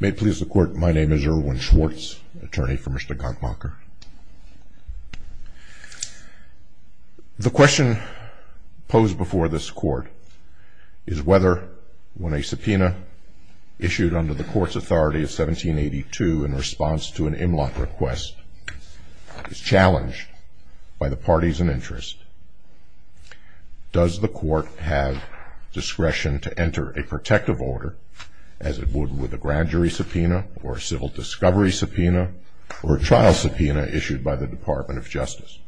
May it please the Court, my name is Erwin Schwartz, attorney for Mr. Gankmacher. The question posed before this Court is whether, when a subpoena issued under the Court's authority of 1782 in response to an Imlot request is challenged by the parties in interest, does the Court have discretion to enter a protective order, as it would with a grand jury subpoena, or a civil discovery subpoena, or a trial subpoena issued by the Department of Justice?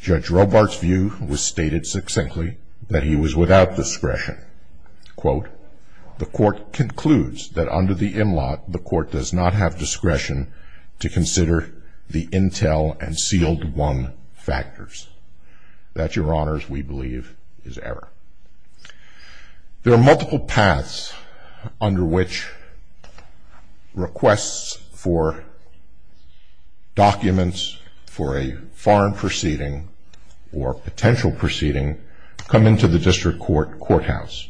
Judge Robart's view was stated succinctly that he was without discretion. Quote, the Court concludes that under the Imlot, the Court does not have discretion to consider the intel and sealed-one factors. That, Your Honors, we believe is error. There are multiple paths under which requests for documents for a foreign proceeding or potential proceeding come into the District Court courthouse.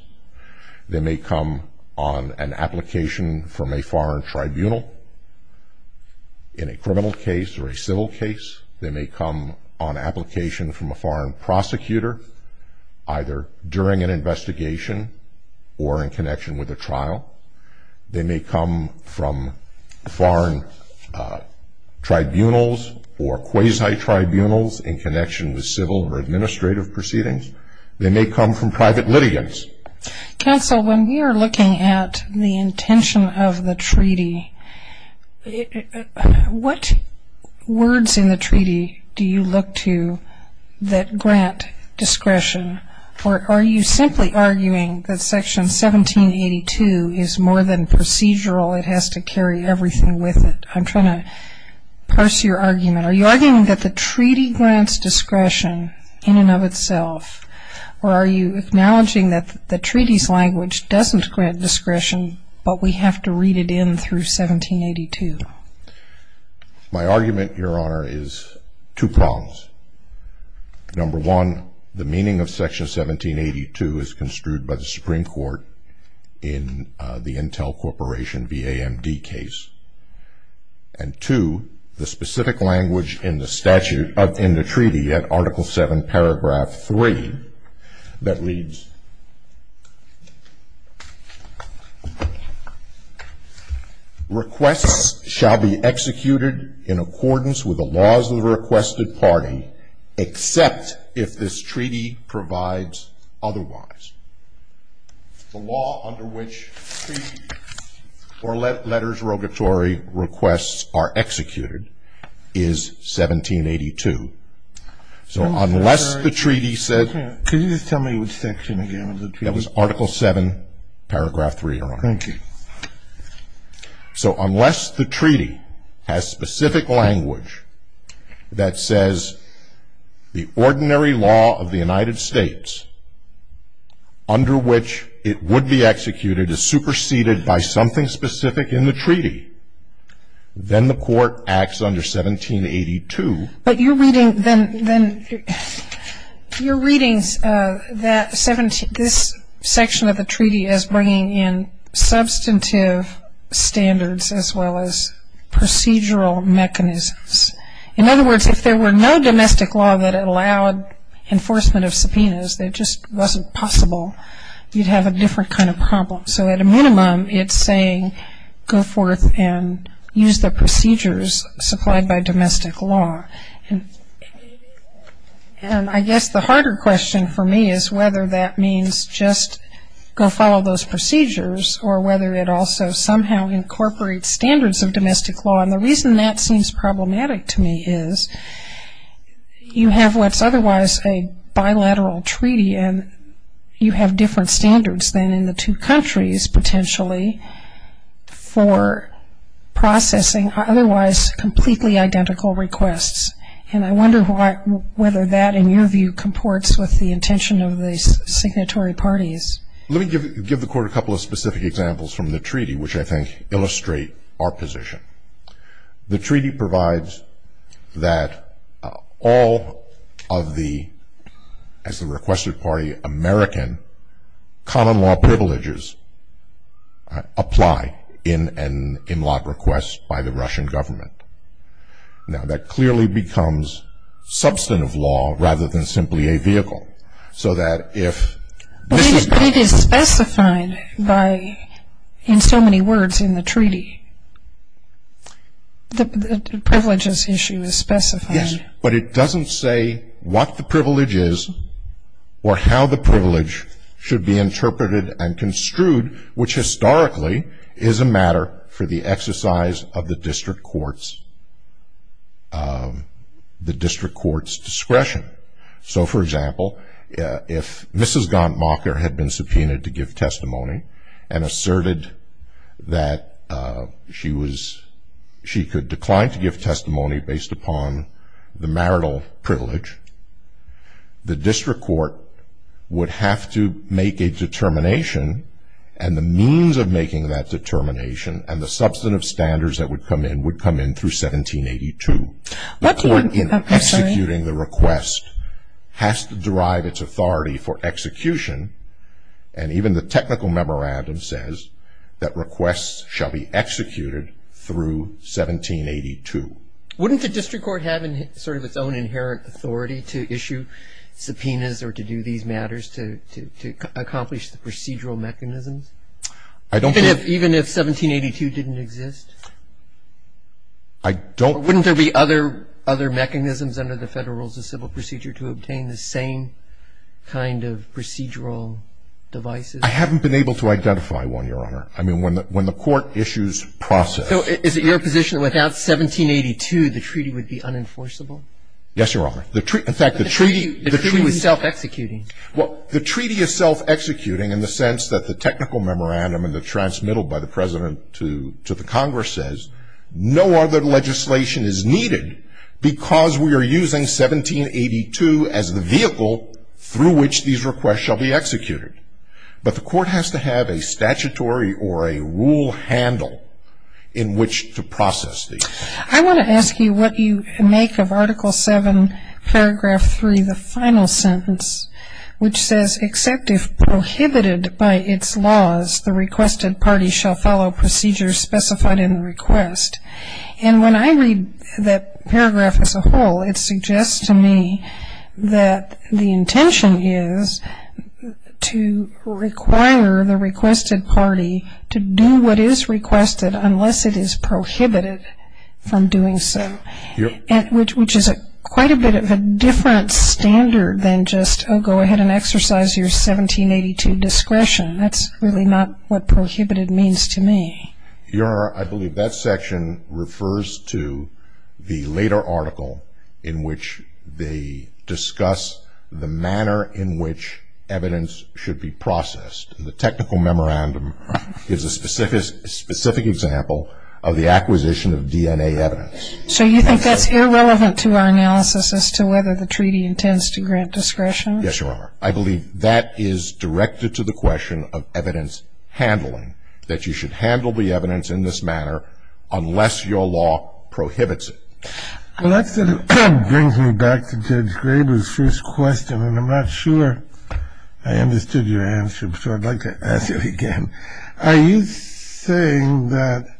They may come on an application from a foreign tribunal in a criminal case or a civil case. They may come on application from a foreign prosecutor, either during an investigation or in connection with a trial. They may come from foreign tribunals or quasi-tribunals in connection with civil or administrative proceedings. They may come from private litigants. Counsel, when we are looking at the intention of the treaty, what words in the treaty do you look to that grant discretion? Or are you simply arguing that Section 1782 is more than procedural? It has to carry everything with it. I'm trying to parse your argument. Are you arguing that the treaty grants discretion in and of itself, or are you acknowledging that the treaty's language doesn't grant discretion, but we have to read it in through 1782? My argument, Your Honor, is two prongs. Number one, the meaning of Section 1782 is construed by the Supreme Court in the Intel Corporation VAMD case. And two, the specific language in the treaty at Article 7, Paragraph 3, that reads, Requests shall be executed in accordance with the laws of the requested party, except if this treaty provides otherwise. The law under which treaty or letters of regulatory requests are executed is 1782. So unless the treaty says Can you just tell me which section again of the treaty? That was Article 7, Paragraph 3, Your Honor. Thank you. So unless the treaty has specific language that says the ordinary law of the United States under which it would be executed is superseded by something specific in the treaty, then the court acts under 1782. But you're reading that this section of the treaty is bringing in substantive standards as well as procedural mechanisms. In other words, if there were no domestic law that allowed enforcement of subpoenas, it just wasn't possible, you'd have a different kind of problem. So at a minimum, it's saying go forth and use the procedures supplied by domestic law. And I guess the harder question for me is whether that means just go follow those procedures or whether it also somehow incorporates standards of domestic law. And the reason that seems problematic to me is you have what's otherwise a bilateral treaty and you have different standards than in the two countries potentially for processing otherwise completely identical requests. And I wonder whether that, in your view, comports with the intention of the signatory parties. Let me give the Court a couple of specific examples from the treaty which I think illustrate our position. The treaty provides that all of the, as the requested party, American common law privileges apply in an in-lot request by the Russian government. Now, that clearly becomes substantive law rather than simply a vehicle so that if this is- But it is specified in so many words in the treaty. The privileges issue is specified. Yes, but it doesn't say what the privilege is or how the privilege should be interpreted and construed, which historically is a matter for the exercise of the district court's discretion. So, for example, if Mrs. Gauntmacher had been subpoenaed to give testimony and asserted that she could decline to give testimony based upon the marital privilege, the district court would have to make a determination and the means of making that determination and the substantive standards that would come in would come in through 1782. The court in executing the request has to derive its authority for execution and even the technical memorandum says that requests shall be executed through 1782. Wouldn't the district court have sort of its own inherent authority to issue subpoenas or to do these matters to accomplish the procedural mechanisms? I don't think- Even if 1782 didn't exist? I don't- Wouldn't there be other mechanisms under the Federal Rules of Civil Procedure to obtain the same kind of procedural devices? I haven't been able to identify one, Your Honor. I mean, when the court issues process- So is it your position that without 1782 the treaty would be unenforceable? Yes, Your Honor. In fact, the treaty- The treaty was self-executing. Well, the treaty is self-executing in the sense that the technical memorandum and the transmittal by the President to the Congress says no other legislation is needed because we are using 1782 as the vehicle through which these requests shall be executed. But the court has to have a statutory or a rule handle in which to process these. I want to ask you what you make of Article 7, Paragraph 3, the final sentence, which says, Except if prohibited by its laws, the requested party shall follow procedures specified in the request. And when I read that paragraph as a whole, it suggests to me that the intention is to require the requested party to do what is requested unless it is prohibited from doing so, which is quite a bit of a different standard than just, Oh, go ahead and exercise your 1782 discretion. That's really not what prohibited means to me. Your Honor, I believe that section refers to the later article in which they discuss the manner in which evidence should be processed. The technical memorandum is a specific example of the acquisition of DNA evidence. So you think that's irrelevant to our analysis as to whether the treaty intends to grant discretion? Yes, Your Honor. I believe that is directed to the question of evidence handling, that you should handle the evidence in this manner unless your law prohibits it. Well, that sort of brings me back to Judge Graber's first question, and I'm not sure I understood your answer, so I'd like to ask it again. Are you saying that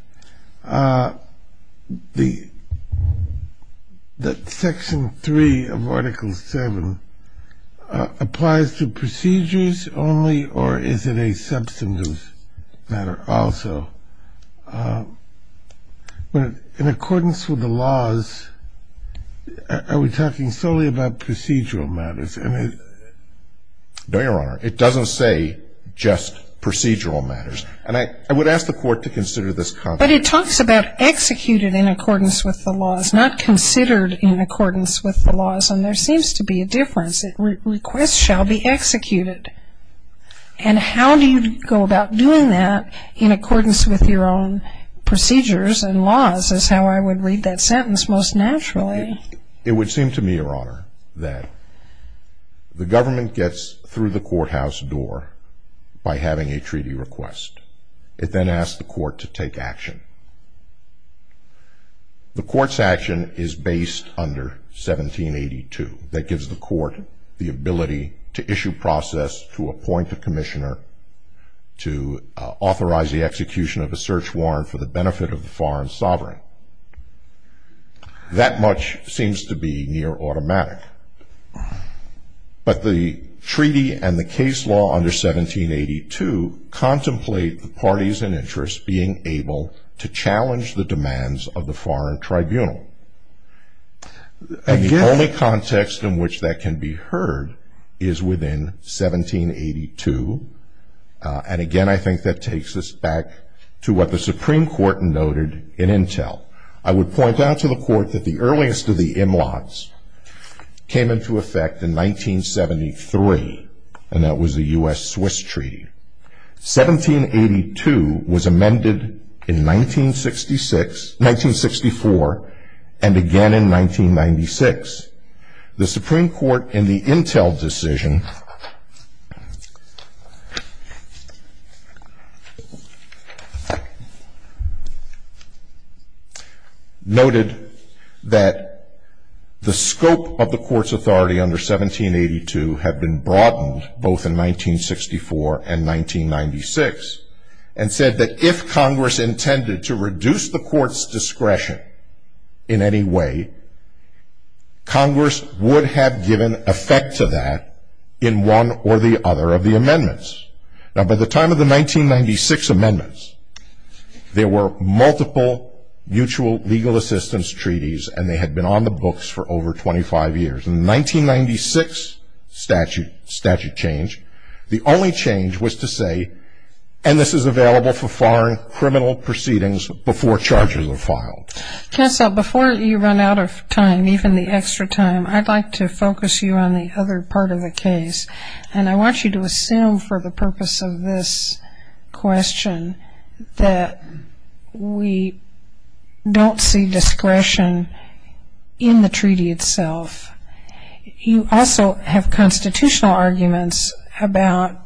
section 3 of article 7 applies to procedures only, or is it a substantive matter also? In accordance with the laws, are we talking solely about procedural matters? No, Your Honor. It doesn't say just procedural matters. And I would ask the Court to consider this context. But it talks about executed in accordance with the laws, not considered in accordance with the laws, and there seems to be a difference. Requests shall be executed. And how do you go about doing that in accordance with your own procedures and laws is how I would read that sentence most naturally. It would seem to me, Your Honor, that the government gets through the courthouse door by having a treaty request. It then asks the Court to take action. The Court's action is based under 1782. That gives the Court the ability to issue process, to appoint a commissioner, to authorize the execution of a search warrant for the benefit of the foreign sovereign. That much seems to be near automatic. But the treaty and the case law under 1782 contemplate the parties in interest being able to challenge the demands of the foreign tribunal. And the only context in which that can be heard is within 1782. And again, I think that takes us back to what the Supreme Court noted in Intel. I would point out to the Court that the earliest of the Imlots came into effect in 1973, and that was the US-Swiss Treaty. 1782 was amended in 1964, and again in 1996. The Supreme Court in the Intel decision noted that the scope of the Court's authority under 1782 had been broadened both in 1964 and 1996, and said that if Congress intended to reduce the Court's discretion in any way, Congress would have given effect to that in one or the other of the amendments. Now, by the time of the 1996 amendments, there were multiple mutual legal assistance treaties, and they had been on the books for over 25 years. In the 1996 statute change, the only change was to say, and this is available for foreign criminal proceedings before charges are filed. Counsel, before you run out of time, even the extra time, I'd like to focus you on the other part of the case. And I want you to assume for the purpose of this question that we don't see discretion in the treaty itself. You also have constitutional arguments about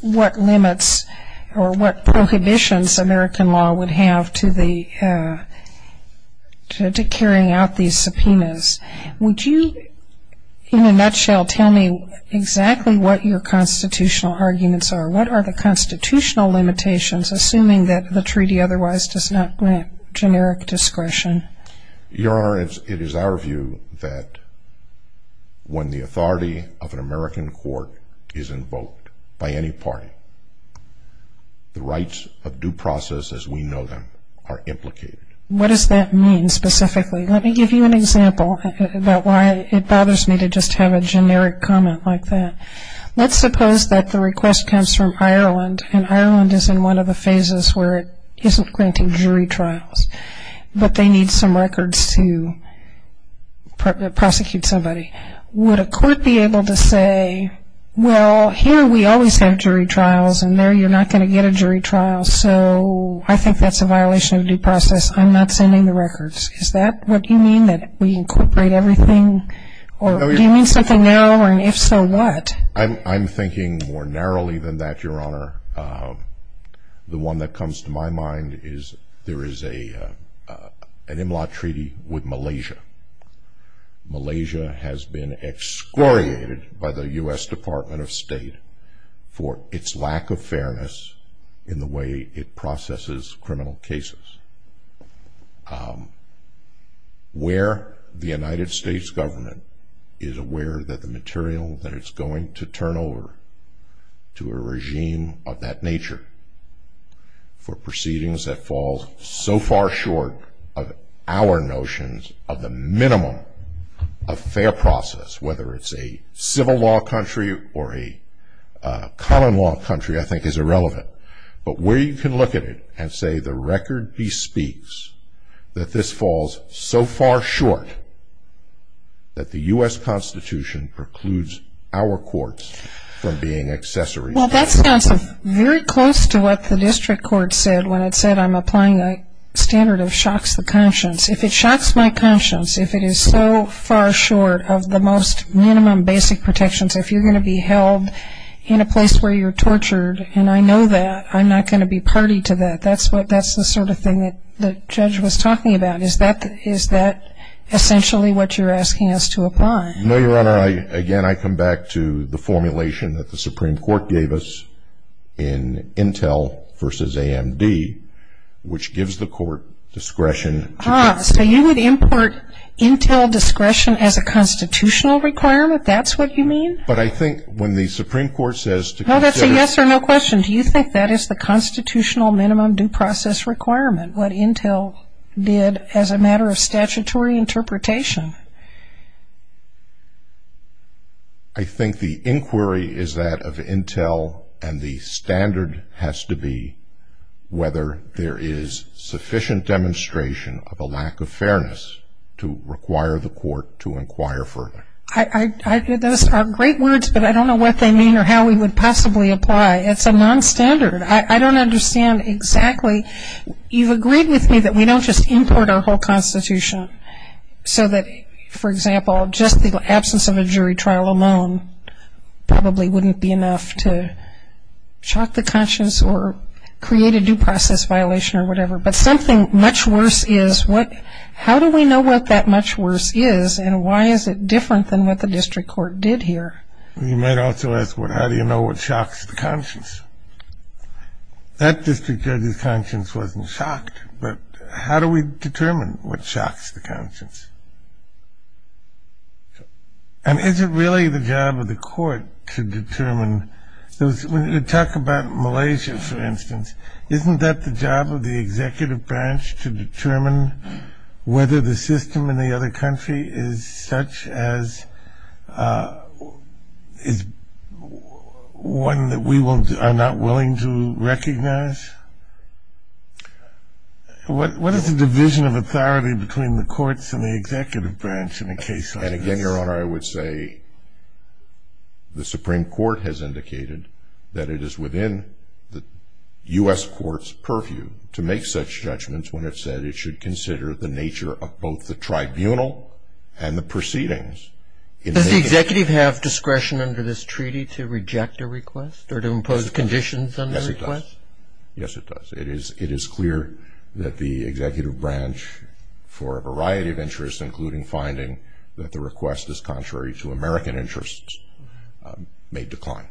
what limits or what prohibitions American law would have to carrying out these subpoenas. Would you, in a nutshell, tell me exactly what your constitutional arguments are? What are the constitutional limitations, assuming that the treaty otherwise does not grant generic discretion? Your Honor, it is our view that when the authority of an American court is invoked by any party, the rights of due process as we know them are implicated. What does that mean specifically? Let me give you an example about why it bothers me to just have a generic comment like that. Let's suppose that the request comes from Ireland, and Ireland is in one of the phases where it isn't granting jury trials, but they need some records to prosecute somebody. Would a court be able to say, well, here we always have jury trials, and there you're not going to get a jury trial, so I think that's a violation of due process. I'm not sending the records. Is that what you mean, that we incorporate everything? Do you mean something narrower, and if so, what? I'm thinking more narrowly than that, Your Honor. The one that comes to my mind is there is an Imlot Treaty with Malaysia. Malaysia has been excoriated by the U.S. Department of State for its lack of fairness in the way it processes criminal cases. Where the United States government is aware that the material that it's going to turn over to a regime of that nature for proceedings that falls so far short of our notions of the minimum of fair process, whether it's a civil law country or a common law country, I think is irrelevant. But where you can look at it and say the record bespeaks that this falls so far short that the U.S. Constitution precludes our courts from being accessories to that. Well, that sounds very close to what the district court said when it said I'm applying a standard that shocks the conscience. If it shocks my conscience, if it is so far short of the most minimum basic protections, if you're going to be held in a place where you're tortured, and I know that, I'm not going to be party to that. That's the sort of thing that the judge was talking about. Is that essentially what you're asking us to apply? No, Your Honor. Again, I come back to the formulation that the Supreme Court gave us in Intel versus AMD, which gives the court discretion. Ah, so you would import Intel discretion as a constitutional requirement? That's what you mean? But I think when the Supreme Court says to consider. No, that's a yes or no question. Do you think that is the constitutional minimum due process requirement, what Intel did as a matter of statutory interpretation? I think the inquiry is that of Intel, and the standard has to be whether there is sufficient demonstration of a lack of fairness to require the court to inquire further. Those are great words, but I don't know what they mean or how we would possibly apply. It's a nonstandard. I don't understand exactly. You've agreed with me that we don't just import our whole Constitution so that, for example, just the absence of a jury trial alone probably wouldn't be enough to shock the conscience or create a due process violation or whatever. But something much worse is, how do we know what that much worse is, and why is it different than what the district court did here? You might also ask, well, how do you know what shocks the conscience? That district judge's conscience wasn't shocked, but how do we determine what shocks the conscience? And is it really the job of the court to determine? When you talk about Malaysia, for instance, isn't that the job of the executive branch to determine whether the system in the other country is such as is one that we are not willing to recognize? What is the division of authority between the courts and the executive branch in a case like this? And again, Your Honor, I would say the Supreme Court has indicated that it is within the U.S. Court's purview to make such judgments when it said it should consider the nature of both the tribunal and the proceedings. Does the executive have discretion under this treaty to reject a request or to impose conditions on the request? Yes, it does. It is clear that the executive branch, for a variety of interests, including finding that the request is contrary to American interests, may decline.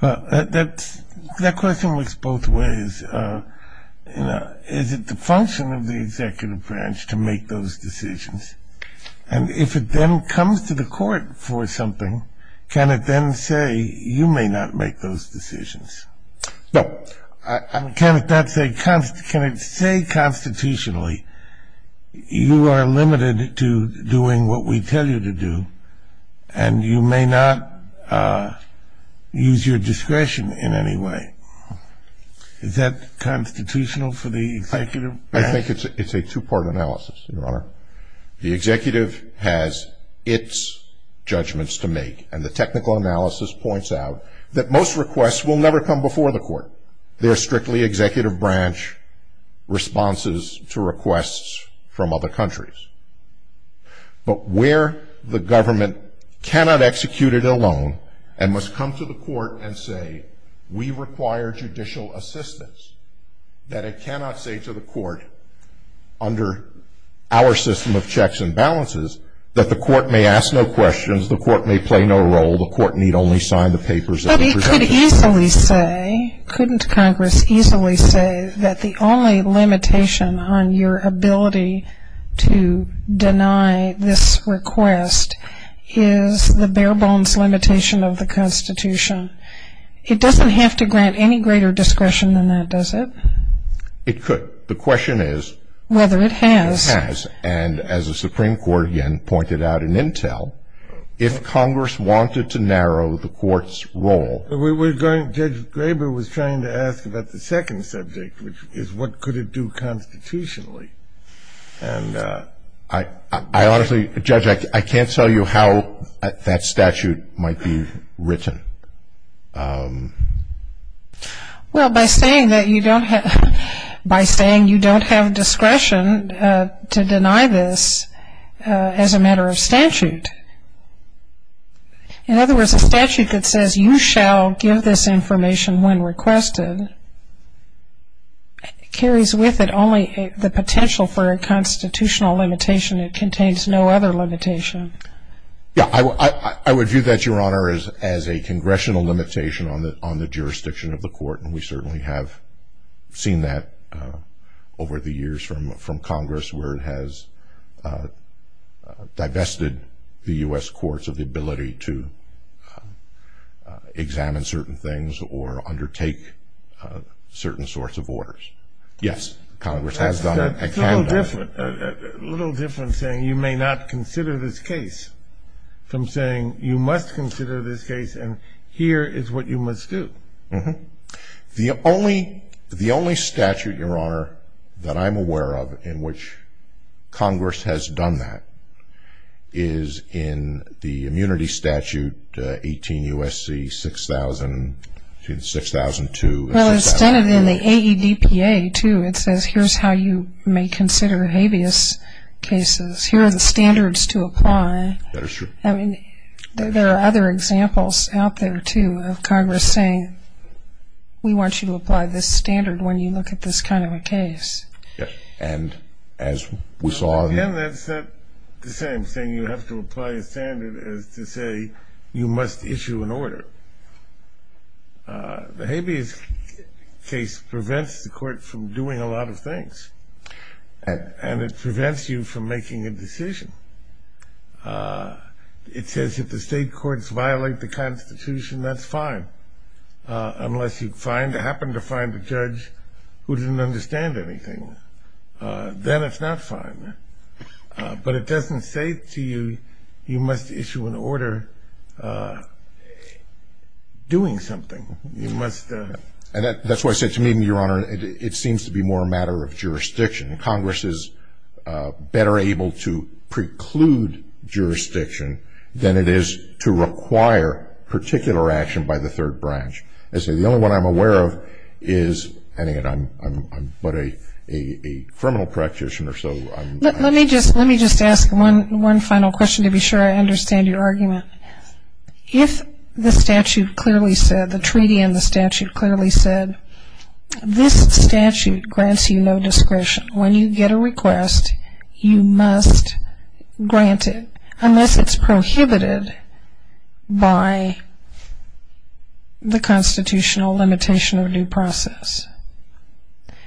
That question works both ways. Is it the function of the executive branch to make those decisions? And if it then comes to the court for something, can it then say, you may not make those decisions? No. Can it say constitutionally, you are limited to doing what we tell you to do and you may not use your discretion in any way? Is that constitutional for the executive branch? I think it's a two-part analysis, Your Honor. The executive has its judgments to make, and the technical analysis points out that most requests will never come before the court. They are strictly executive branch responses to requests from other countries. But where the government cannot execute it alone and must come to the court and say we require judicial assistance, that it cannot say to the court under our system of checks and balances that the court may ask no questions, the court may play no role, the court need only sign the papers of the presumption. But it could easily say, couldn't Congress easily say, that the only limitation on your ability to deny this request is the bare bones limitation of the Constitution? It doesn't have to grant any greater discretion than that, does it? It could. The question is. Whether it has. It has. And as the Supreme Court again pointed out in intel, if Congress wanted to narrow the court's role. Judge Graber was trying to ask about the second subject, which is what could it do constitutionally. And I honestly, Judge, I can't tell you how that statute might be written. Well, by saying that you don't have, by saying you don't have discretion to deny this as a matter of statute. In other words, a statute that says, you shall give this information when requested, carries with it only the potential for a constitutional limitation. It contains no other limitation. Yeah, I would view that, Your Honor, as a congressional limitation on the jurisdiction of the court. And we certainly have seen that over the years from Congress, where it has divested the U.S. courts of the ability to examine certain things or undertake certain sorts of orders. Yes, Congress has done it and can do it. It's a little different saying you may not consider this case from saying you must consider this case and here is what you must do. The only statute, Your Honor, that I'm aware of in which Congress has done that is in the immunity statute, 18 U.S.C. 6002. Well, it's stated in the AEDPA, too. It says here's how you may consider habeas cases. Here are the standards to apply. That is true. I mean, there are other examples out there, too, of Congress saying, we want you to apply this standard when you look at this kind of a case. Yes, and as we saw in the other case. Again, that's the same thing. You have to apply a standard as to say you must issue an order. The habeas case prevents the court from doing a lot of things and it prevents you from making a decision. It says if the state courts violate the Constitution, that's fine, unless you happen to find a judge who didn't understand anything. Then it's not fine. But it doesn't say to you you must issue an order doing something. And that's why I said to me, Your Honor, it seems to be more a matter of jurisdiction. Congress is better able to preclude jurisdiction than it is to require particular action by the third branch. As I say, the only one I'm aware of is, I mean, I'm but a criminal practitioner, so. Let me just ask one final question to be sure I understand your argument. If the statute clearly said, the treaty and the statute clearly said, this statute grants you no discretion. When you get a request, you must grant it, unless it's prohibited by the constitutional limitation of due process.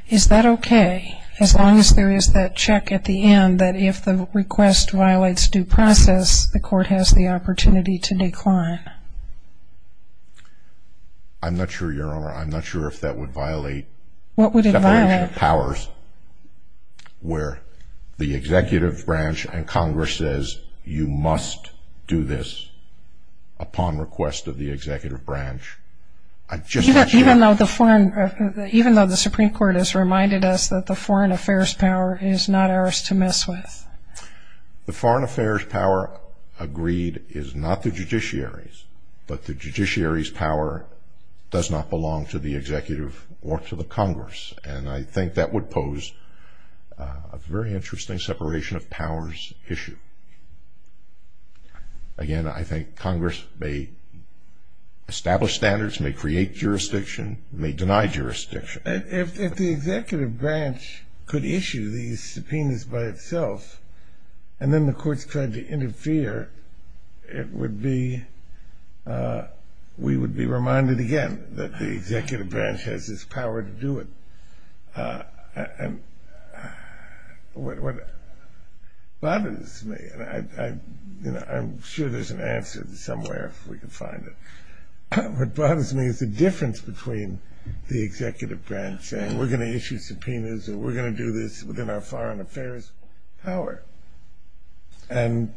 Is that okay as long as there is that check at the end that if the request violates due process, the court has the opportunity to decline? I'm not sure, Your Honor. I'm not sure if that would violate the definition of powers where the executive branch and Congress says you must do this upon request of the executive branch. Even though the Supreme Court has reminded us that the foreign affairs power is not ours to mess with? The foreign affairs power agreed is not the judiciary's, but the judiciary's power does not belong to the executive or to the Congress. And I think that would pose a very interesting separation of powers issue. Again, I think Congress may establish standards, may create jurisdiction, may deny jurisdiction. If the executive branch could issue these subpoenas by itself, and then the courts tried to interfere, it would be we would be reminded again that the executive branch has this power to do it. And what bothers me, and I'm sure there's an answer somewhere if we can find it, what bothers me is the difference between the executive branch saying we're going to issue subpoenas or we're going to do this within our foreign affairs power, and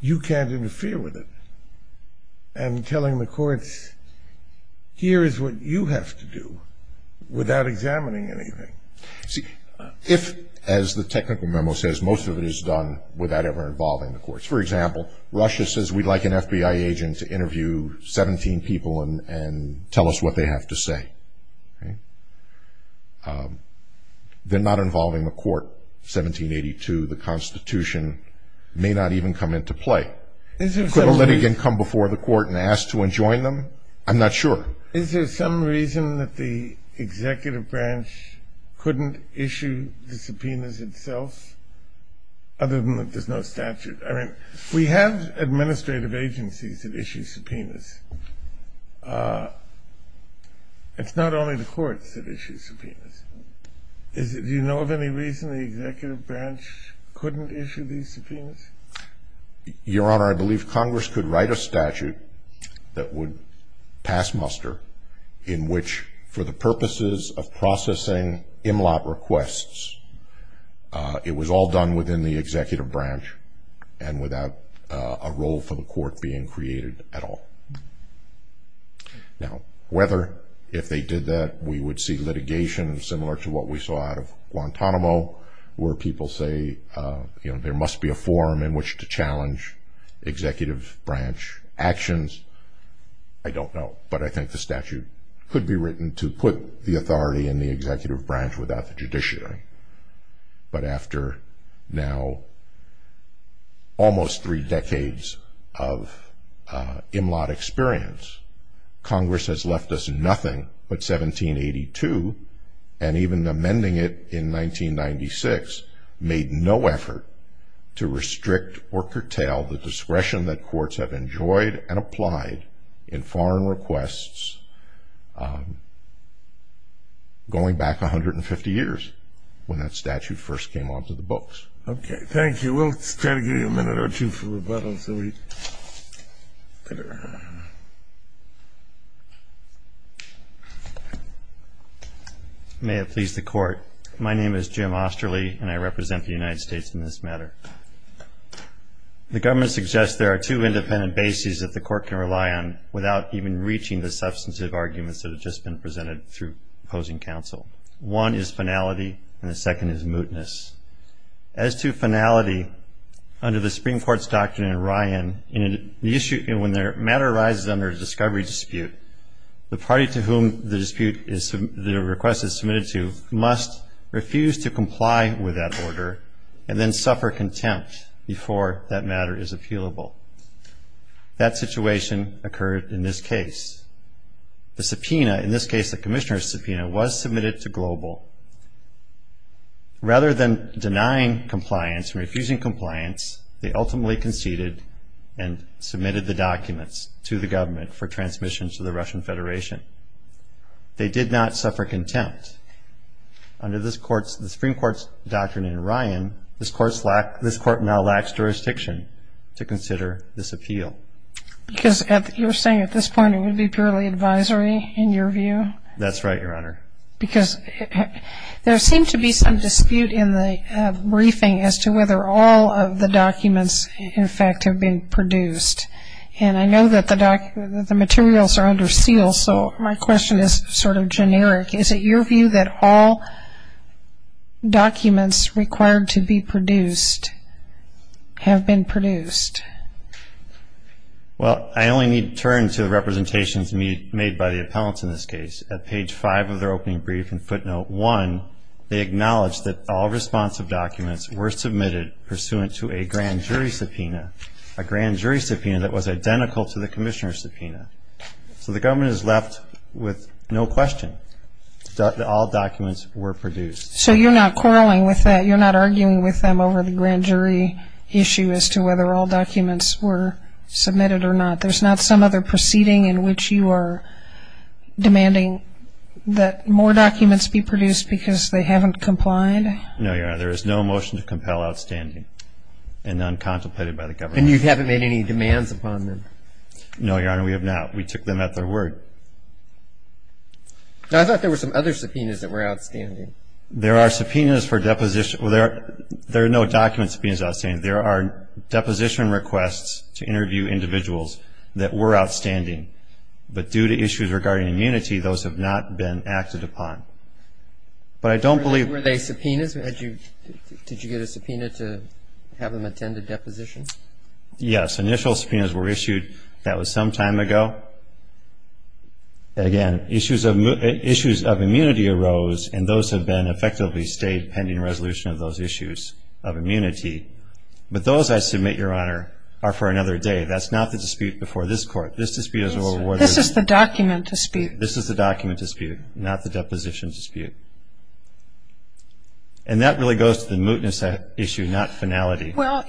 you can't interfere with it, and telling the courts here is what you have to do without examining anything. See, if, as the technical memo says, most of it is done without ever involving the courts. For example, Russia says we'd like an FBI agent to interview 17 people and tell us what they have to say. They're not involving the court. 1782, the Constitution may not even come into play. Could a litigant come before the court and ask to enjoin them? I'm not sure. Is there some reason that the executive branch couldn't issue the subpoenas itself, other than that there's no statute? I mean, we have administrative agencies that issue subpoenas. It's not only the courts that issue subpoenas. Do you know of any reason the executive branch couldn't issue these subpoenas? Your Honor, I believe Congress could write a statute that would pass muster in which, for the purposes of processing MLOT requests, it was all done within the executive branch and without a role for the court being created at all. Now, whether if they did that we would see litigation similar to what we saw out of Guantanamo, where people say there must be a forum in which to challenge executive branch actions, I don't know. But I think the statute could be written to put the authority in the executive branch without the judiciary. But after now almost three decades of MLOT experience, Congress has left us nothing but 1782, and even amending it in 1996 made no effort to restrict or curtail the discretion that courts have enjoyed and applied in foreign requests going back 150 years when that statute first came onto the books. Okay. Thank you. We'll try to give you a minute or two for rebuttal. May it please the Court. My name is Jim Osterly, and I represent the United States in this matter. The government suggests there are two independent bases that the court can rely on without even reaching the substantive arguments that have just been presented through opposing counsel. One is finality, and the second is mootness. As to finality, under the Supreme Court's doctrine in Ryan, when matter arises under a discovery dispute, the party to whom the request is submitted to must refuse to comply with that order and then suffer contempt before that matter is appealable. That situation occurred in this case. The subpoena, in this case the commissioner's subpoena, was submitted to Global. Rather than denying compliance and refusing compliance, they ultimately conceded and submitted the documents to the government for transmission to the Russian Federation. They did not suffer contempt. Under the Supreme Court's doctrine in Ryan, this Court now lacks jurisdiction to consider this appeal. Because you're saying at this point it would be purely advisory in your view? That's right, Your Honor. Because there seemed to be some dispute in the briefing as to whether all of the documents, in fact, have been produced. And I know that the materials are under seal, so my question is sort of generic. Is it your view that all documents required to be produced have been produced? Well, I only need to turn to the representations made by the appellants in this case. At page 5 of their opening brief in footnote 1, they acknowledge that all responsive documents were submitted pursuant to a grand jury subpoena, a grand jury subpoena that was identical to the commissioner's subpoena. So the government is left with no question that all documents were produced. So you're not quarreling with that? You're not arguing with them over the grand jury issue as to whether all documents were submitted or not? There's not some other proceeding in which you are demanding that more documents be produced because they haven't complied? No, Your Honor. There is no motion to compel outstanding and non-contemplated by the government. And you haven't made any demands upon them? No, Your Honor, we have not. We took them at their word. I thought there were some other subpoenas that were outstanding. There are subpoenas for deposition. There are no document subpoenas outstanding. There are deposition requests to interview individuals that were outstanding, but due to issues regarding immunity, those have not been acted upon. But I don't believe they were subpoenas. Did you get a subpoena to have them attend a deposition? Yes. Initial subpoenas were issued. That was some time ago. Again, issues of immunity arose, and those have been effectively stayed pending resolution of those issues of immunity. But those, I submit, Your Honor, are for another day. That's not the dispute before this Court. This dispute is over water. This is the document dispute. This is the document dispute, not the deposition dispute. And that really goes to the mootness issue, not finality. Well,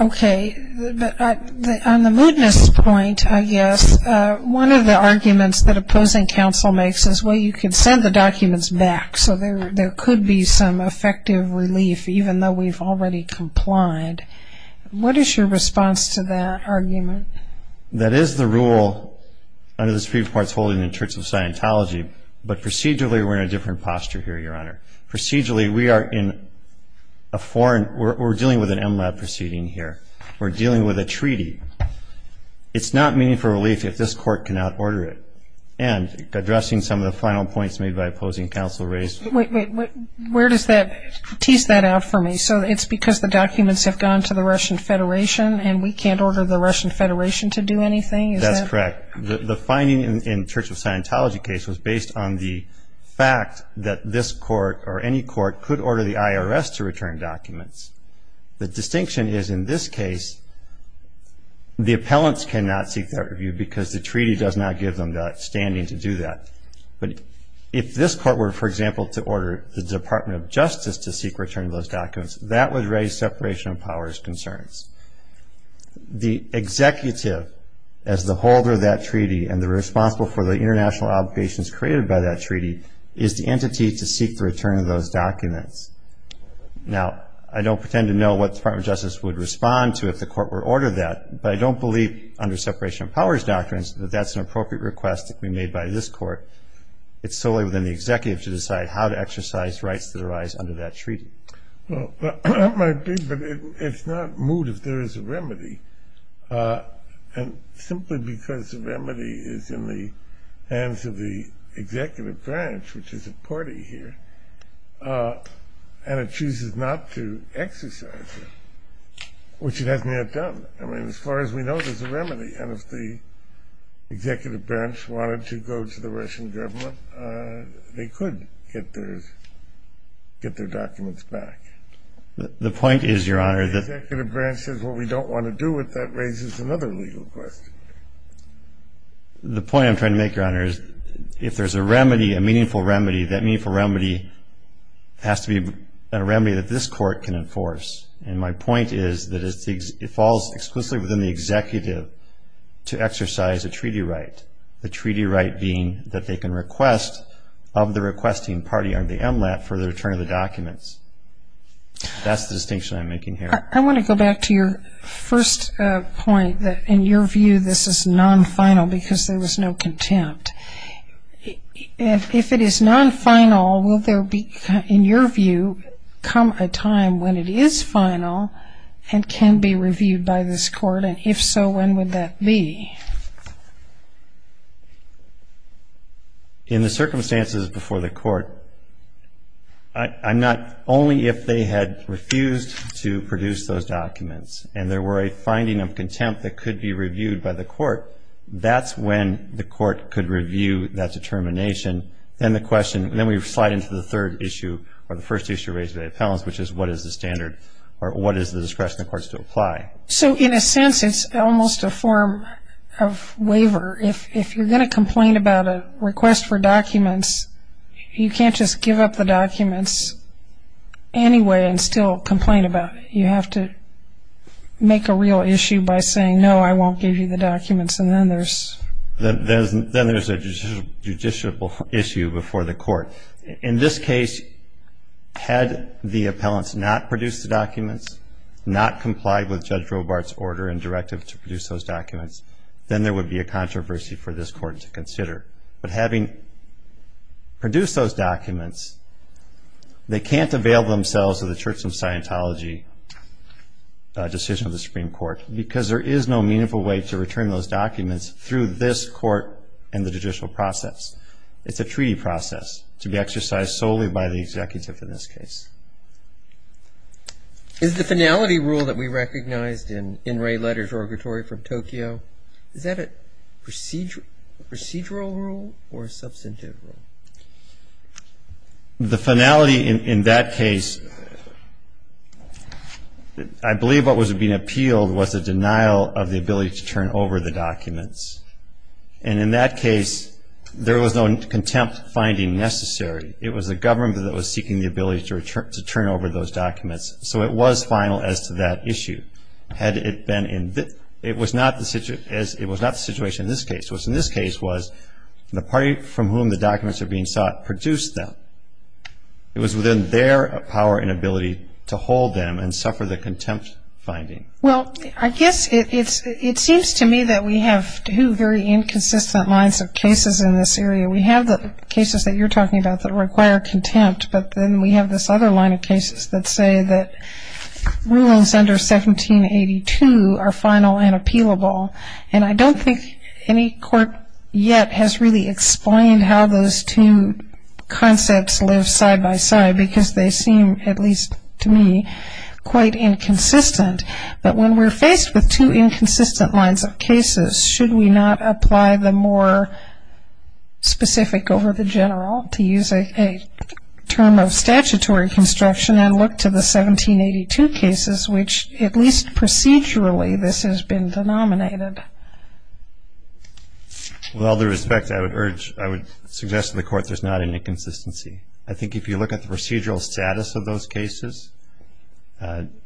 okay, but on the mootness point, I guess, one of the arguments that opposing counsel makes is, well, you can send the documents back, so there could be some effective relief even though we've already complied. What is your response to that argument? That is the rule under the Supreme Court's holding in the Church of Scientology, but procedurally we're in a different posture here, Your Honor. Procedurally, we are in a foreign ñ we're dealing with an MLAB proceeding here. We're dealing with a treaty. It's not meaningful relief if this Court cannot order it. And addressing some of the final points made by opposing counsel raised ñ Wait, wait, wait. Where does that ñ tease that out for me. So it's because the documents have gone to the Russian Federation and we can't order the Russian Federation to do anything? Is that ñ That's correct. The finding in the Church of Scientology case was based on the fact that this court or any court could order the IRS to return documents. The distinction is, in this case, the appellants cannot seek that review because the treaty does not give them the standing to do that. But if this court were, for example, to order the Department of Justice to seek return of those documents, that would raise separation of powers concerns. The executive as the holder of that treaty and the responsible for the international obligations created by that treaty is the entity to seek the return of those documents. Now, I don't pretend to know what the Department of Justice would respond to if the court were to order that, but I don't believe under separation of powers doctrines that that's an appropriate request to be made by this court. It's solely within the executive to decide how to exercise rights to their rights under that treaty. Well, that might be, but it's not moot if there is a remedy. And simply because the remedy is in the hands of the executive branch, which is a party here, and it chooses not to exercise it, which it has not done. I mean, as far as we know, there's a remedy. And if the executive branch wanted to go to the Russian government, they could get their documents back. The point is, Your Honor, that The executive branch says, well, we don't want to do it. That raises another legal question. The point I'm trying to make, Your Honor, is if there's a remedy, a meaningful remedy, that meaningful remedy has to be a remedy that this court can enforce. And my point is that it falls exclusively within the executive to exercise a treaty right, the treaty right being that they can request of the requesting party on the MLAT for the return of the documents. That's the distinction I'm making here. I want to go back to your first point, that in your view, this is non-final, because there was no contempt. And if it is non-final, will there be, in your view, come a time when it is final and can be reviewed by this court? And if so, when would that be? In the circumstances before the court, not only if they had refused to produce those documents and there were a finding of contempt that could be reviewed by the court, that's when the court could review that determination. Then the question, then we slide into the third issue, or the first issue raised by the appellants, which is what is the standard or what is the discretion of the courts to apply? So in a sense, it's almost a form of waiver. If you're going to complain about a request for documents, you can't just give up the documents anyway and still complain about it. You have to make a real issue by saying, no, I won't give you the documents, and then there's... Then there's a judicial issue before the court. In this case, had the appellants not produced the documents, not complied with Judge Robart's order and directive to produce those documents, then there would be a controversy for this court to consider. But having produced those documents, they can't avail themselves of the Church of Scientology decision of the Supreme Court because there is no meaningful way to return those documents through this court and the judicial process. It's a treaty process to be exercised solely by the executive in this case. Is the finality rule that we recognized in In Re Letters Orgatory from Tokyo, is that a procedural rule or a substantive rule? The finality in that case, I believe what was being appealed was a denial of the ability to turn over the documents. And in that case, there was no contempt finding necessary. It was the government that was seeking the ability to turn over those documents. So it was final as to that issue. It was not the situation in this case. What's in this case was the party from whom the documents are being sought produced them. It was within their power and ability to hold them and suffer the contempt finding. Well, I guess it seems to me that we have two very inconsistent lines of cases in this area. We have the cases that you're talking about that require contempt, but then we have this other line of cases that say that rules under 1782 are final and appealable. And I don't think any court yet has really explained how those two concepts live side by side because they seem, at least to me, quite inconsistent. But when we're faced with two inconsistent lines of cases, should we not apply the more specific over the general to use a term of statutory construction and look to the 1782 cases which at least procedurally this has been denominated? With all due respect, I would suggest to the court there's not an inconsistency. I think if you look at the procedural status of those cases,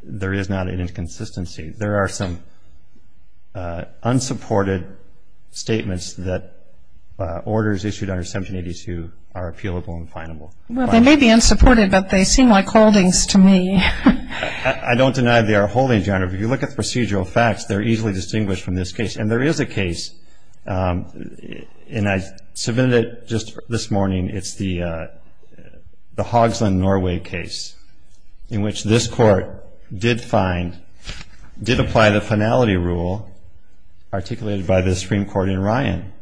there is not an inconsistency. There are some unsupported statements that orders issued under 1782 are appealable and final. Well, they may be unsupported, but they seem like holdings to me. I don't deny they are holdings, Your Honor. If you look at the procedural facts, they're easily distinguished from this case. And there is a case, and I submitted it just this morning. It's the Hogsland, Norway case in which this court did find, did apply the finality rule articulated by the Supreme Court in Ryan.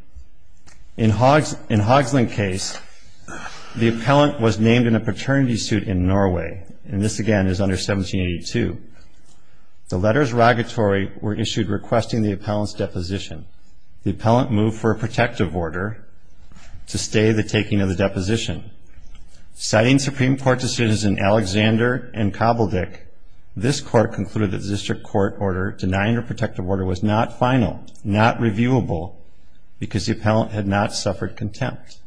In Hogsland's case, the appellant was named in a paternity suit in Norway, and this, again, is under 1782. The letters rogatory were issued requesting the appellant's deposition. The appellant moved for a protective order to stay the taking of the deposition. Citing Supreme Court decisions in Alexander and Kobeldich, this court concluded that the district court order denying a protective order was not final, not reviewable, because the appellant had not suffered contempt.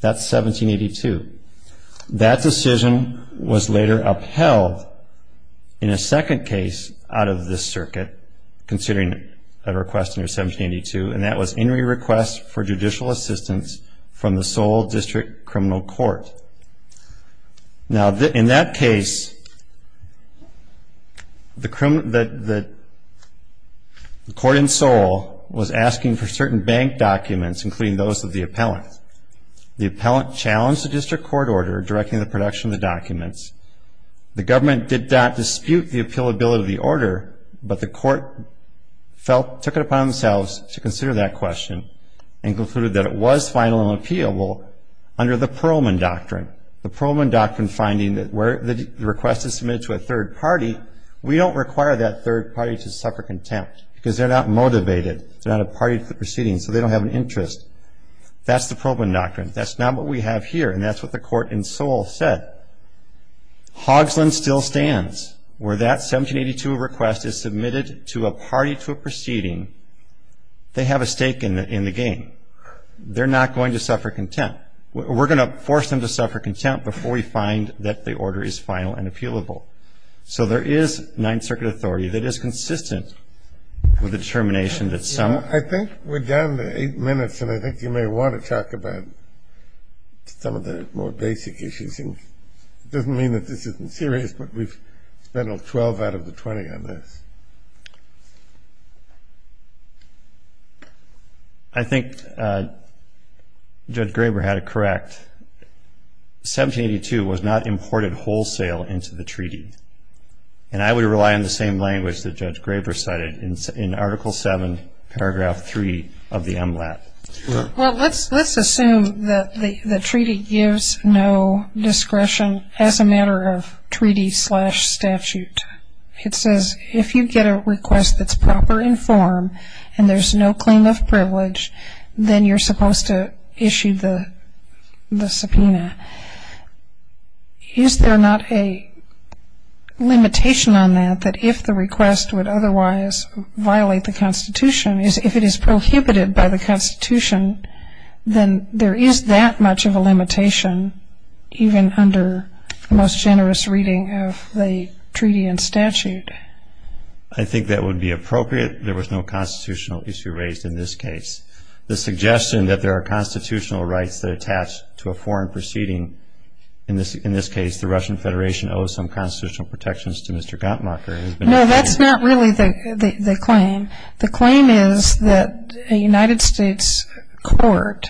That's 1782. That decision was later upheld in a second case out of this circuit, considering a request under 1782, and that was in re-request for judicial assistance from the Seoul District Criminal Court. Now, in that case, the court in Seoul was asking for certain bank documents, including those of the appellant. The appellant challenged the district court order directing the production of the documents. The government did not dispute the appealability of the order, but the court took it upon themselves to consider that question and concluded that it was final and appealable under the Pearlman Doctrine, the Pearlman Doctrine finding that where the request is submitted to a third party, we don't require that third party to suffer contempt because they're not motivated. They're not a party to the proceedings, so they don't have an interest. That's the Pearlman Doctrine. That's not what we have here, and that's what the court in Seoul said. Hogsland still stands. Where that 1782 request is submitted to a party to a proceeding, they have a stake in the game. They're not going to suffer contempt. We're going to force them to suffer contempt before we find that the order is final and appealable. So there is Ninth Circuit authority that is consistent with the determination that some of the courts I think you may want to talk about some of the more basic issues. It doesn't mean that this isn't serious, but we've spent 12 out of the 20 on this. I think Judge Graber had it correct. 1782 was not imported wholesale into the treaty, and I would rely on the same language that Judge Graber cited in Article 7, Paragraph 3 of the MLAT. Well, let's assume that the treaty gives no discretion as a matter of treaty-slash-statute. It says if you get a request that's proper in form and there's no claim of privilege, then you're supposed to issue the subpoena. Is there not a limitation on that that if the request would otherwise violate the Constitution, if it is prohibited by the Constitution, then there is that much of a limitation even under the most generous reading of the treaty and statute? I think that would be appropriate. There was no constitutional issue raised in this case. The suggestion that there are constitutional rights that attach to a foreign proceeding, in this case the Russian Federation owes some constitutional protections to Mr. Ganttmacher. No, that's not really the claim. The claim is that a United States court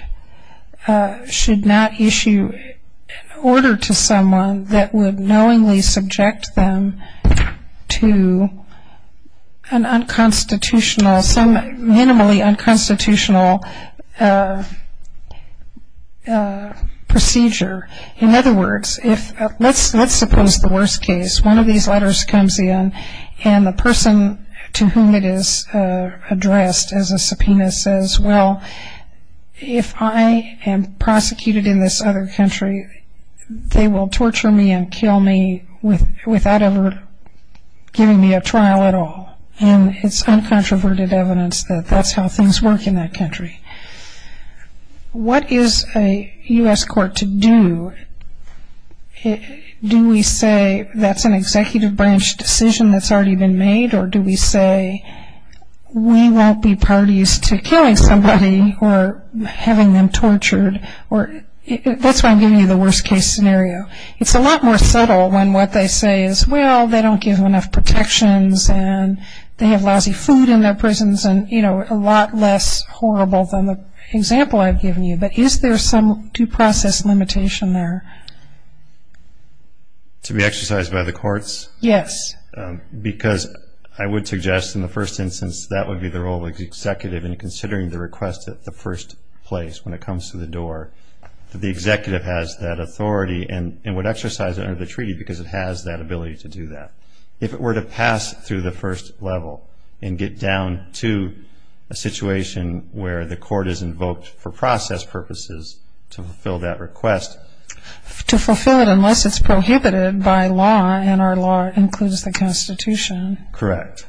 should not issue an order to someone that would knowingly subject them to an unconstitutional, some minimally unconstitutional procedure. In other words, let's suppose the worst case, one of these letters comes in and the person to whom it is addressed as a subpoena says, well, if I am prosecuted in this other country, they will torture me and kill me without ever giving me a trial at all. And it's uncontroverted evidence that that's how things work in that country. What is a U.S. court to do? Do we say that's an executive branch decision that's already been made or do we say we won't be parties to killing somebody or having them tortured? That's why I'm giving you the worst case scenario. It's a lot more subtle when what they say is, well, they don't give enough protections and they have lousy food in their prisons and, you know, a lot less horrible than the example I've given you. But is there some due process limitation there? To be exercised by the courts? Yes. Because I would suggest in the first instance that would be the role of the executive in considering the request at the first place when it comes to the door. The executive has that authority and would exercise it under the treaty because it has that ability to do that. If it were to pass through the first level and get down to a situation where the court is invoked for process purposes to fulfill that request. To fulfill it unless it's prohibited by law and our law includes the Constitution. Correct.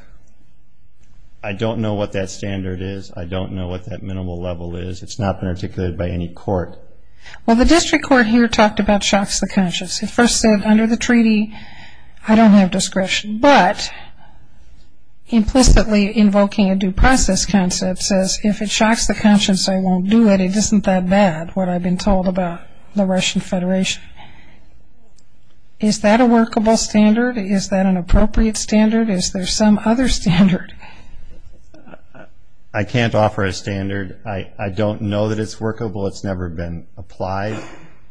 I don't know what that standard is. I don't know what that minimal level is. It's not been articulated by any court. Well, the district court here talked about shocks to conscience. It first said under the treaty I don't have discretion, but implicitly invoking a due process concept says if it shocks the conscience I won't do it, but it isn't that bad, what I've been told about the Russian Federation. Is that a workable standard? Is that an appropriate standard? Is there some other standard? I can't offer a standard. I don't know that it's workable. It's never been applied.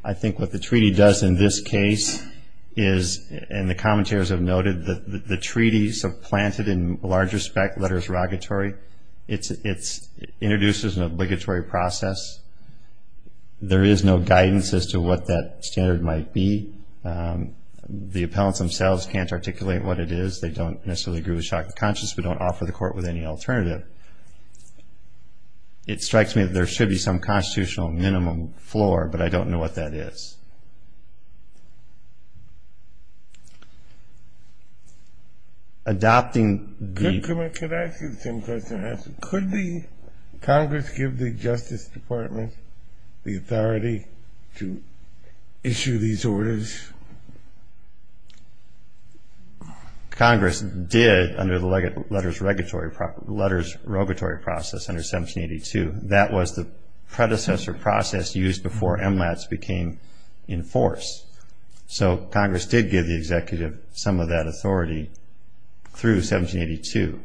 I think what the treaty does in this case is, and the commentators have noted, the treaties have planted in large respect letters rogatory. It introduces an obligatory process. There is no guidance as to what that standard might be. The appellants themselves can't articulate what it is. They don't necessarily agree with shocks to conscience, but don't offer the court with any alternative. It strikes me that there should be some constitutional minimum floor, but I don't know what that is. Adopting the ---- Could I ask you the same question? Could Congress give the Justice Department the authority to issue these orders? Congress did under the letters rogatory process under 1782. That was the predecessor process used before MLATS became in force. So Congress did give the executive some of that authority through 1782.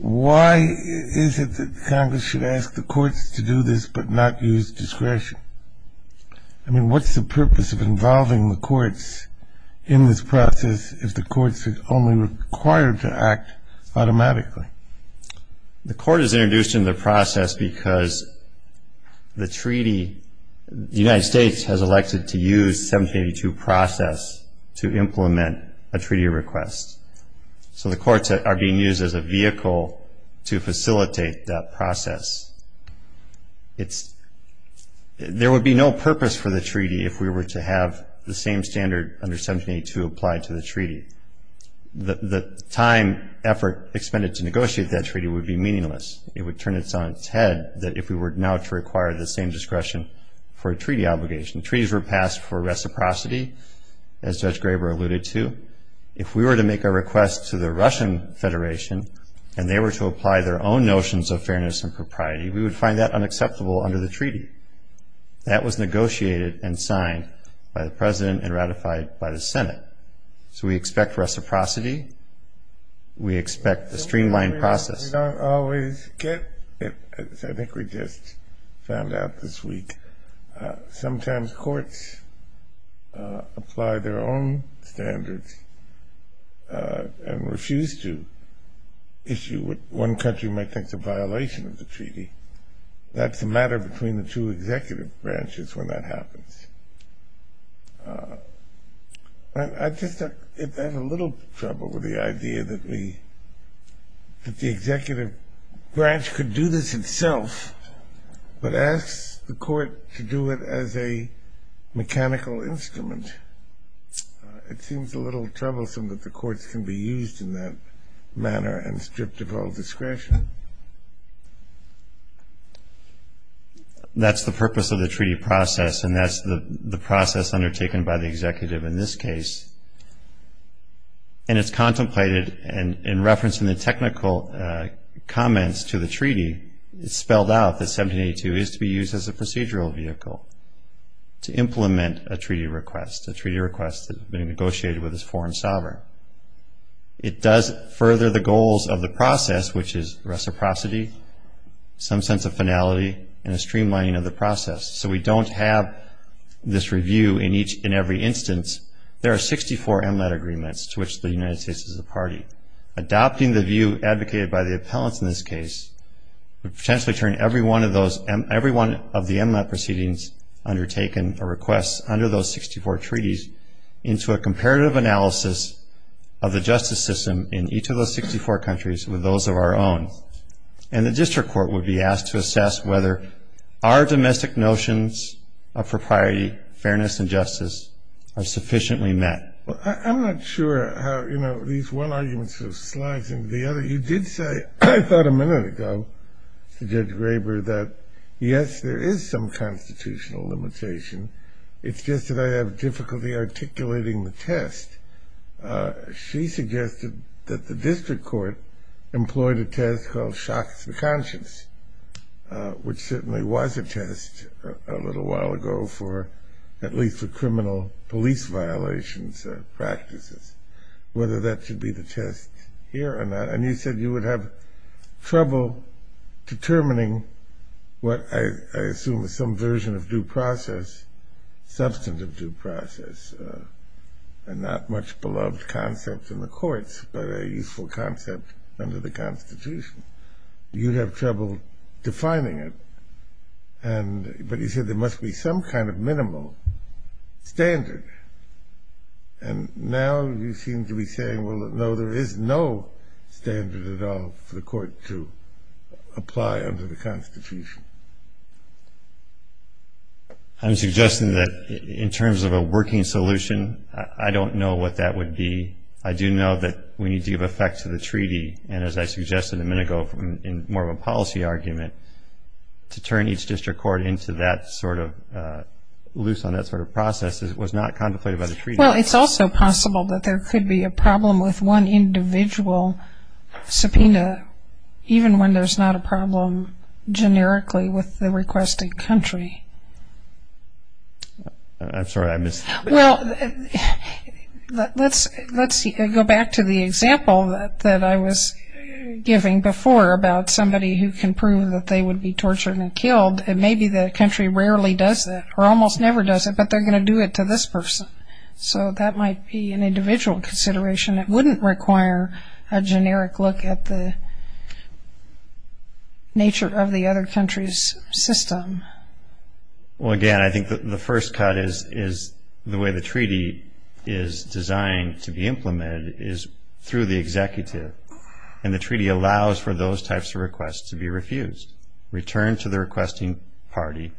Why is it that Congress should ask the courts to do this but not use discretion? I mean, what's the purpose of involving the courts in this process if the courts are only required to act automatically? The court is introduced in the process because the treaty, the United States has elected to use 1782 process to implement a treaty request. So the courts are being used as a vehicle to facilitate that process. There would be no purpose for the treaty if we were to have the same standard under 1782 applied to the treaty. The time, effort expended to negotiate that treaty would be meaningless. It would turn its head that if we were now to require the same discretion for a treaty obligation. Treaties were passed for reciprocity, as Judge Graber alluded to. If we were to make a request to the Russian Federation and they were to apply their own notions of fairness and propriety, we would find that unacceptable under the treaty. That was negotiated and signed by the President and ratified by the Senate. So we expect reciprocity. We expect a streamlined process. We don't always get it. I think we just found out this week. Sometimes courts apply their own standards and refuse to issue what one country might think is a violation of the treaty. That's a matter between the two executive branches when that happens. I just have a little trouble with the idea that the executive branch could do this itself but asks the court to do it as a mechanical instrument. It seems a little troublesome that the courts can be used in that manner and stripped of all discretion. That's the purpose of the treaty process and that's the process undertaken by the executive in this case. And it's contemplated, and in reference to the technical comments to the treaty, it's spelled out that 1782 is to be used as a procedural vehicle to implement a treaty request, a treaty request that has been negotiated with this foreign sovereign. It does further the goals of the process, which is reciprocity, some sense of finality, and a streamlining of the process. So we don't have this review in every instance. There are 64 MLET agreements to which the United States is a party. Adopting the view advocated by the appellants in this case would potentially turn every one of the MLET proceedings undertaken or requests under those 64 treaties into a comparative analysis of the justice system in each of those 64 countries with those of our own. And the district court would be asked to assess whether our domestic notions of propriety, fairness, and justice are sufficiently met. I'm not sure how, you know, these one argument sort of slides into the other. You did say, I thought a minute ago, Judge Graber, that yes, there is some constitutional limitation. It's just that I have difficulty articulating the test. She suggested that the district court employed a test called shocks of conscience, which certainly was a test a little while ago for at least the criminal police violations practices, whether that should be the test here or not. And you said you would have trouble determining what I assume is some version of due process, substantive due process, and not much beloved concept in the courts, but a useful concept under the Constitution. You'd have trouble defining it. But you said there must be some kind of minimal standard. And now you seem to be saying, well, no, there is no standard at all for the court to apply under the Constitution. I'm suggesting that in terms of a working solution, I don't know what that would be. I do know that we need to give effect to the treaty. And as I suggested a minute ago in more of a policy argument, to turn each district court into that sort of loose on that sort of process that was not contemplated by the treaty. Well, it's also possible that there could be a problem with one individual subpoena, even when there's not a problem generically with the requested country. I'm sorry. Well, let's go back to the example that I was giving before about somebody who can prove that they would be tortured and killed, and maybe the country rarely does that or almost never does it, but they're going to do it to this person. So that might be an individual consideration. It wouldn't require a generic look at the nature of the other country's system. Well, again, I think the first cut is the way the treaty is designed to be implemented is through the executive. And the treaty allows for those types of requests to be refused. The executive has to first return to the requesting party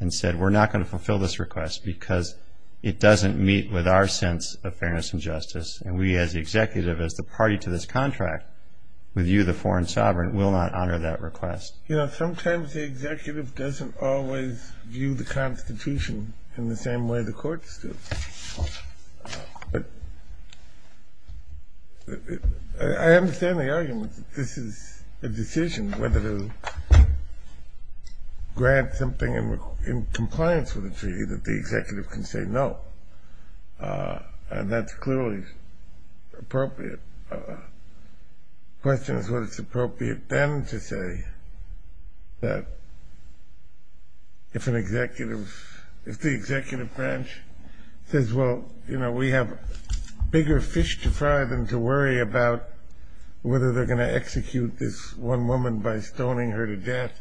and said, we're not going to fulfill this request because it doesn't meet with our sense of fairness and justice. And we as the executive, as the party to this contract, with you, the foreign sovereign, will not honor that request. You know, sometimes the executive doesn't always view the Constitution in the same way the courts do. But I understand the argument that this is a decision, whether to grant something in compliance with the treaty that the executive can say no. And that's clearly appropriate. The question is whether it's appropriate then to say that if an executive, if the executive branch says, well, you know, we have bigger fish to fry than to worry about whether they're going to execute this one woman by stoning her to death,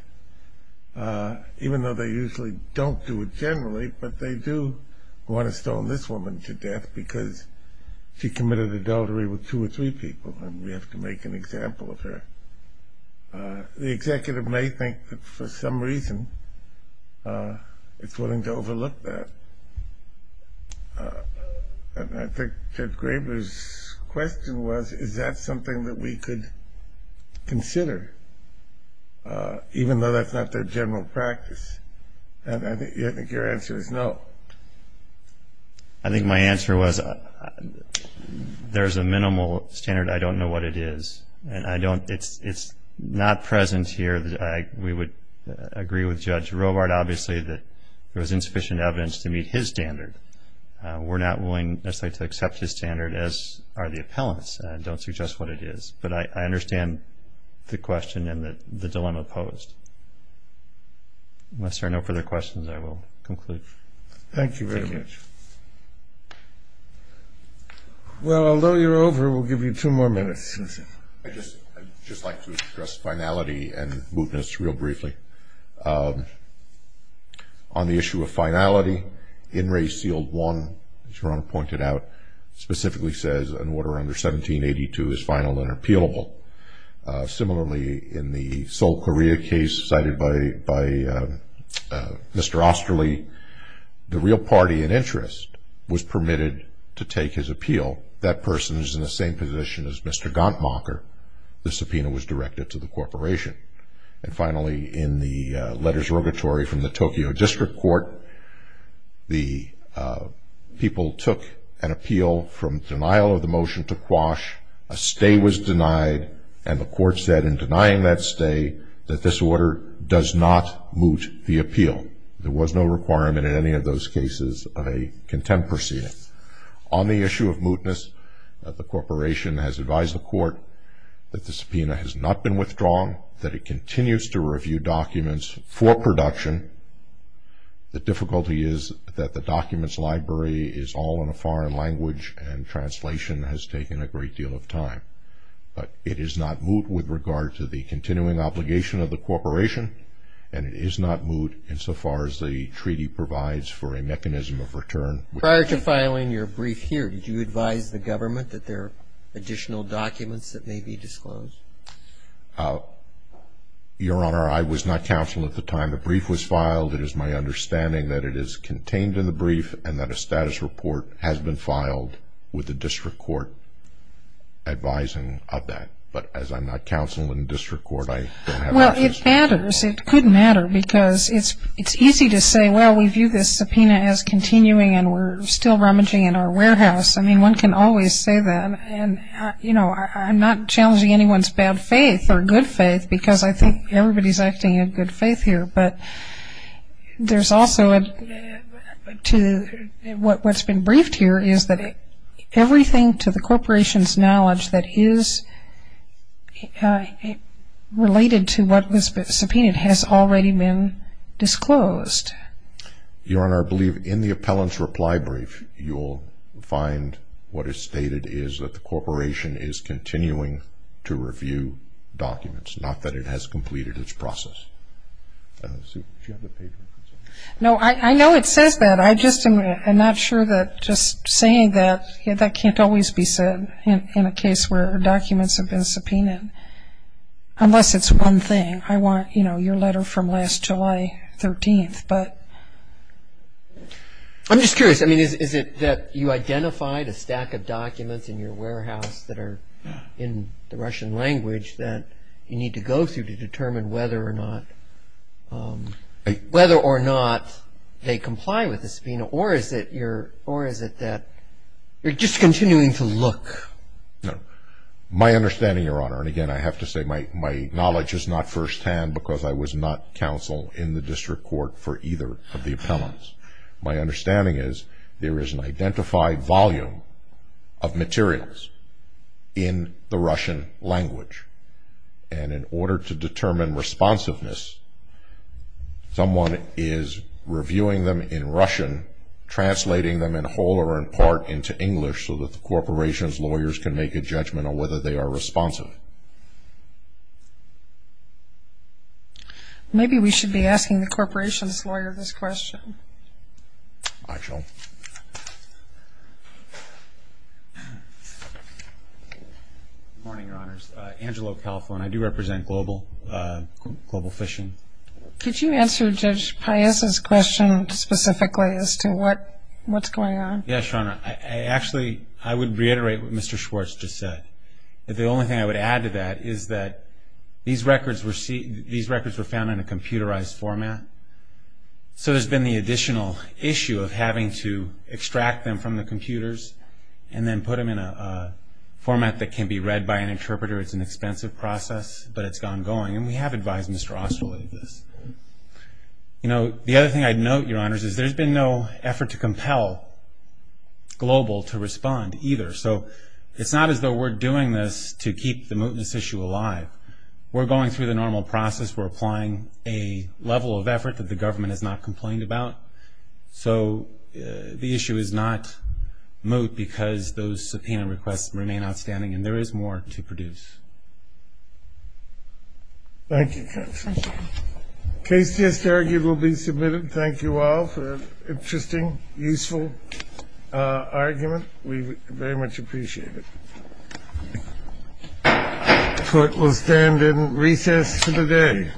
even though they usually don't do it generally, but they do want to stone this woman to death because she committed adultery with two or three people and we have to make an example of her. The executive may think that for some reason it's willing to overlook that. And I think Ted Graber's question was, is that something that we could consider, even though that's not their general practice? And I think your answer is no. I think my answer was there's a minimal standard. I don't know what it is. It's not present here. We would agree with Judge Robart, obviously, that there was insufficient evidence to meet his standard. We're not willing necessarily to accept his standard, as are the appellants. I don't suggest what it is. But I understand the question and the dilemma posed. Unless there are no further questions, I will conclude. Thank you very much. Well, although you're over, we'll give you two more minutes. I'd just like to address finality and mootness real briefly. On the issue of finality, In Re Sealed 1, as Your Honor pointed out, specifically says an order under 1782 is final and appealable. Similarly, in the Seoul, Korea case cited by Mr. Osterly, the real party in interest was permitted to take his appeal. That person is in the same position as Mr. Ganttmacher. The subpoena was directed to the corporation. And finally, in the letters of regatory from the Tokyo District Court, the people took an appeal from denial of the motion to quash. A stay was denied, and the court said in denying that stay that this order does not moot the appeal. There was no requirement in any of those cases of a contempt proceeding. On the issue of mootness, the corporation has advised the court that the subpoena has not been withdrawn, that it continues to review documents for production. The difficulty is that the documents library is all in a foreign language, and translation has taken a great deal of time. But it is not moot with regard to the continuing obligation of the corporation, and it is not moot insofar as the treaty provides for a mechanism of return. Prior to filing your brief here, did you advise the government that there are additional documents that may be disclosed? Your Honor, I was not counsel at the time the brief was filed. It is my understanding that it is contained in the brief and that a status report has been filed with the district court advising of that. But as I'm not counsel in the district court, I don't have access to it. Well, it matters. It could matter because it's easy to say, well, we view this subpoena as continuing and we're still rummaging in our warehouse. I mean, one can always say that. And, you know, I'm not challenging anyone's bad faith or good faith because I think everybody's acting in good faith here. But there's also to what's been briefed here is that everything to the corporation's knowledge that is related to what was subpoenaed has already been disclosed. Your Honor, I believe in the appellant's reply brief, you'll find what is stated is that the corporation is continuing to review documents, not that it has completed its process. No, I know it says that. I'm not sure that just saying that, that can't always be said in a case where documents have been subpoenaed, unless it's one thing. I want, you know, your letter from last July 13th. I'm just curious, I mean, is it that you identified a stack of documents in your warehouse that are in the Russian language that you need to go through to determine whether or not they comply with the subpoena, or is it that you're just continuing to look? My understanding, Your Honor, and, again, I have to say my knowledge is not firsthand because I was not counsel in the district court for either of the appellants. My understanding is there is an identified volume of materials in the Russian language, and in order to determine responsiveness, someone is reviewing them in Russian, translating them in whole or in part into English so that the corporation's lawyers can make a judgment on whether they are responsive. Maybe we should be asking the corporation's lawyer this question. I shall. Good morning, Your Honors. Angelo Califone. I do represent Global Fishing. Could you answer Judge Paez's question specifically as to what's going on? Yes, Your Honor. Actually, I would reiterate what Mr. Schwartz just said. The only thing I would add to that is that these records were found in a computerized format, so there's been the additional issue of having to extract them from the computers and then put them in a format that can be read by an interpreter. It's an expensive process, but it's ongoing, and we have advised Mr. Osterling of this. The other thing I'd note, Your Honors, is there's been no effort to compel Global to respond either, so it's not as though we're doing this to keep the mootness issue alive. We're going through the normal process. We're applying a level of effort that the government has not complained about. So the issue is not moot because those subpoena requests remain outstanding, and there is more to produce. Thank you, Judge. Case just argued will be submitted. Thank you all for an interesting, useful argument. We very much appreciate it. Court will stand in recess for the day.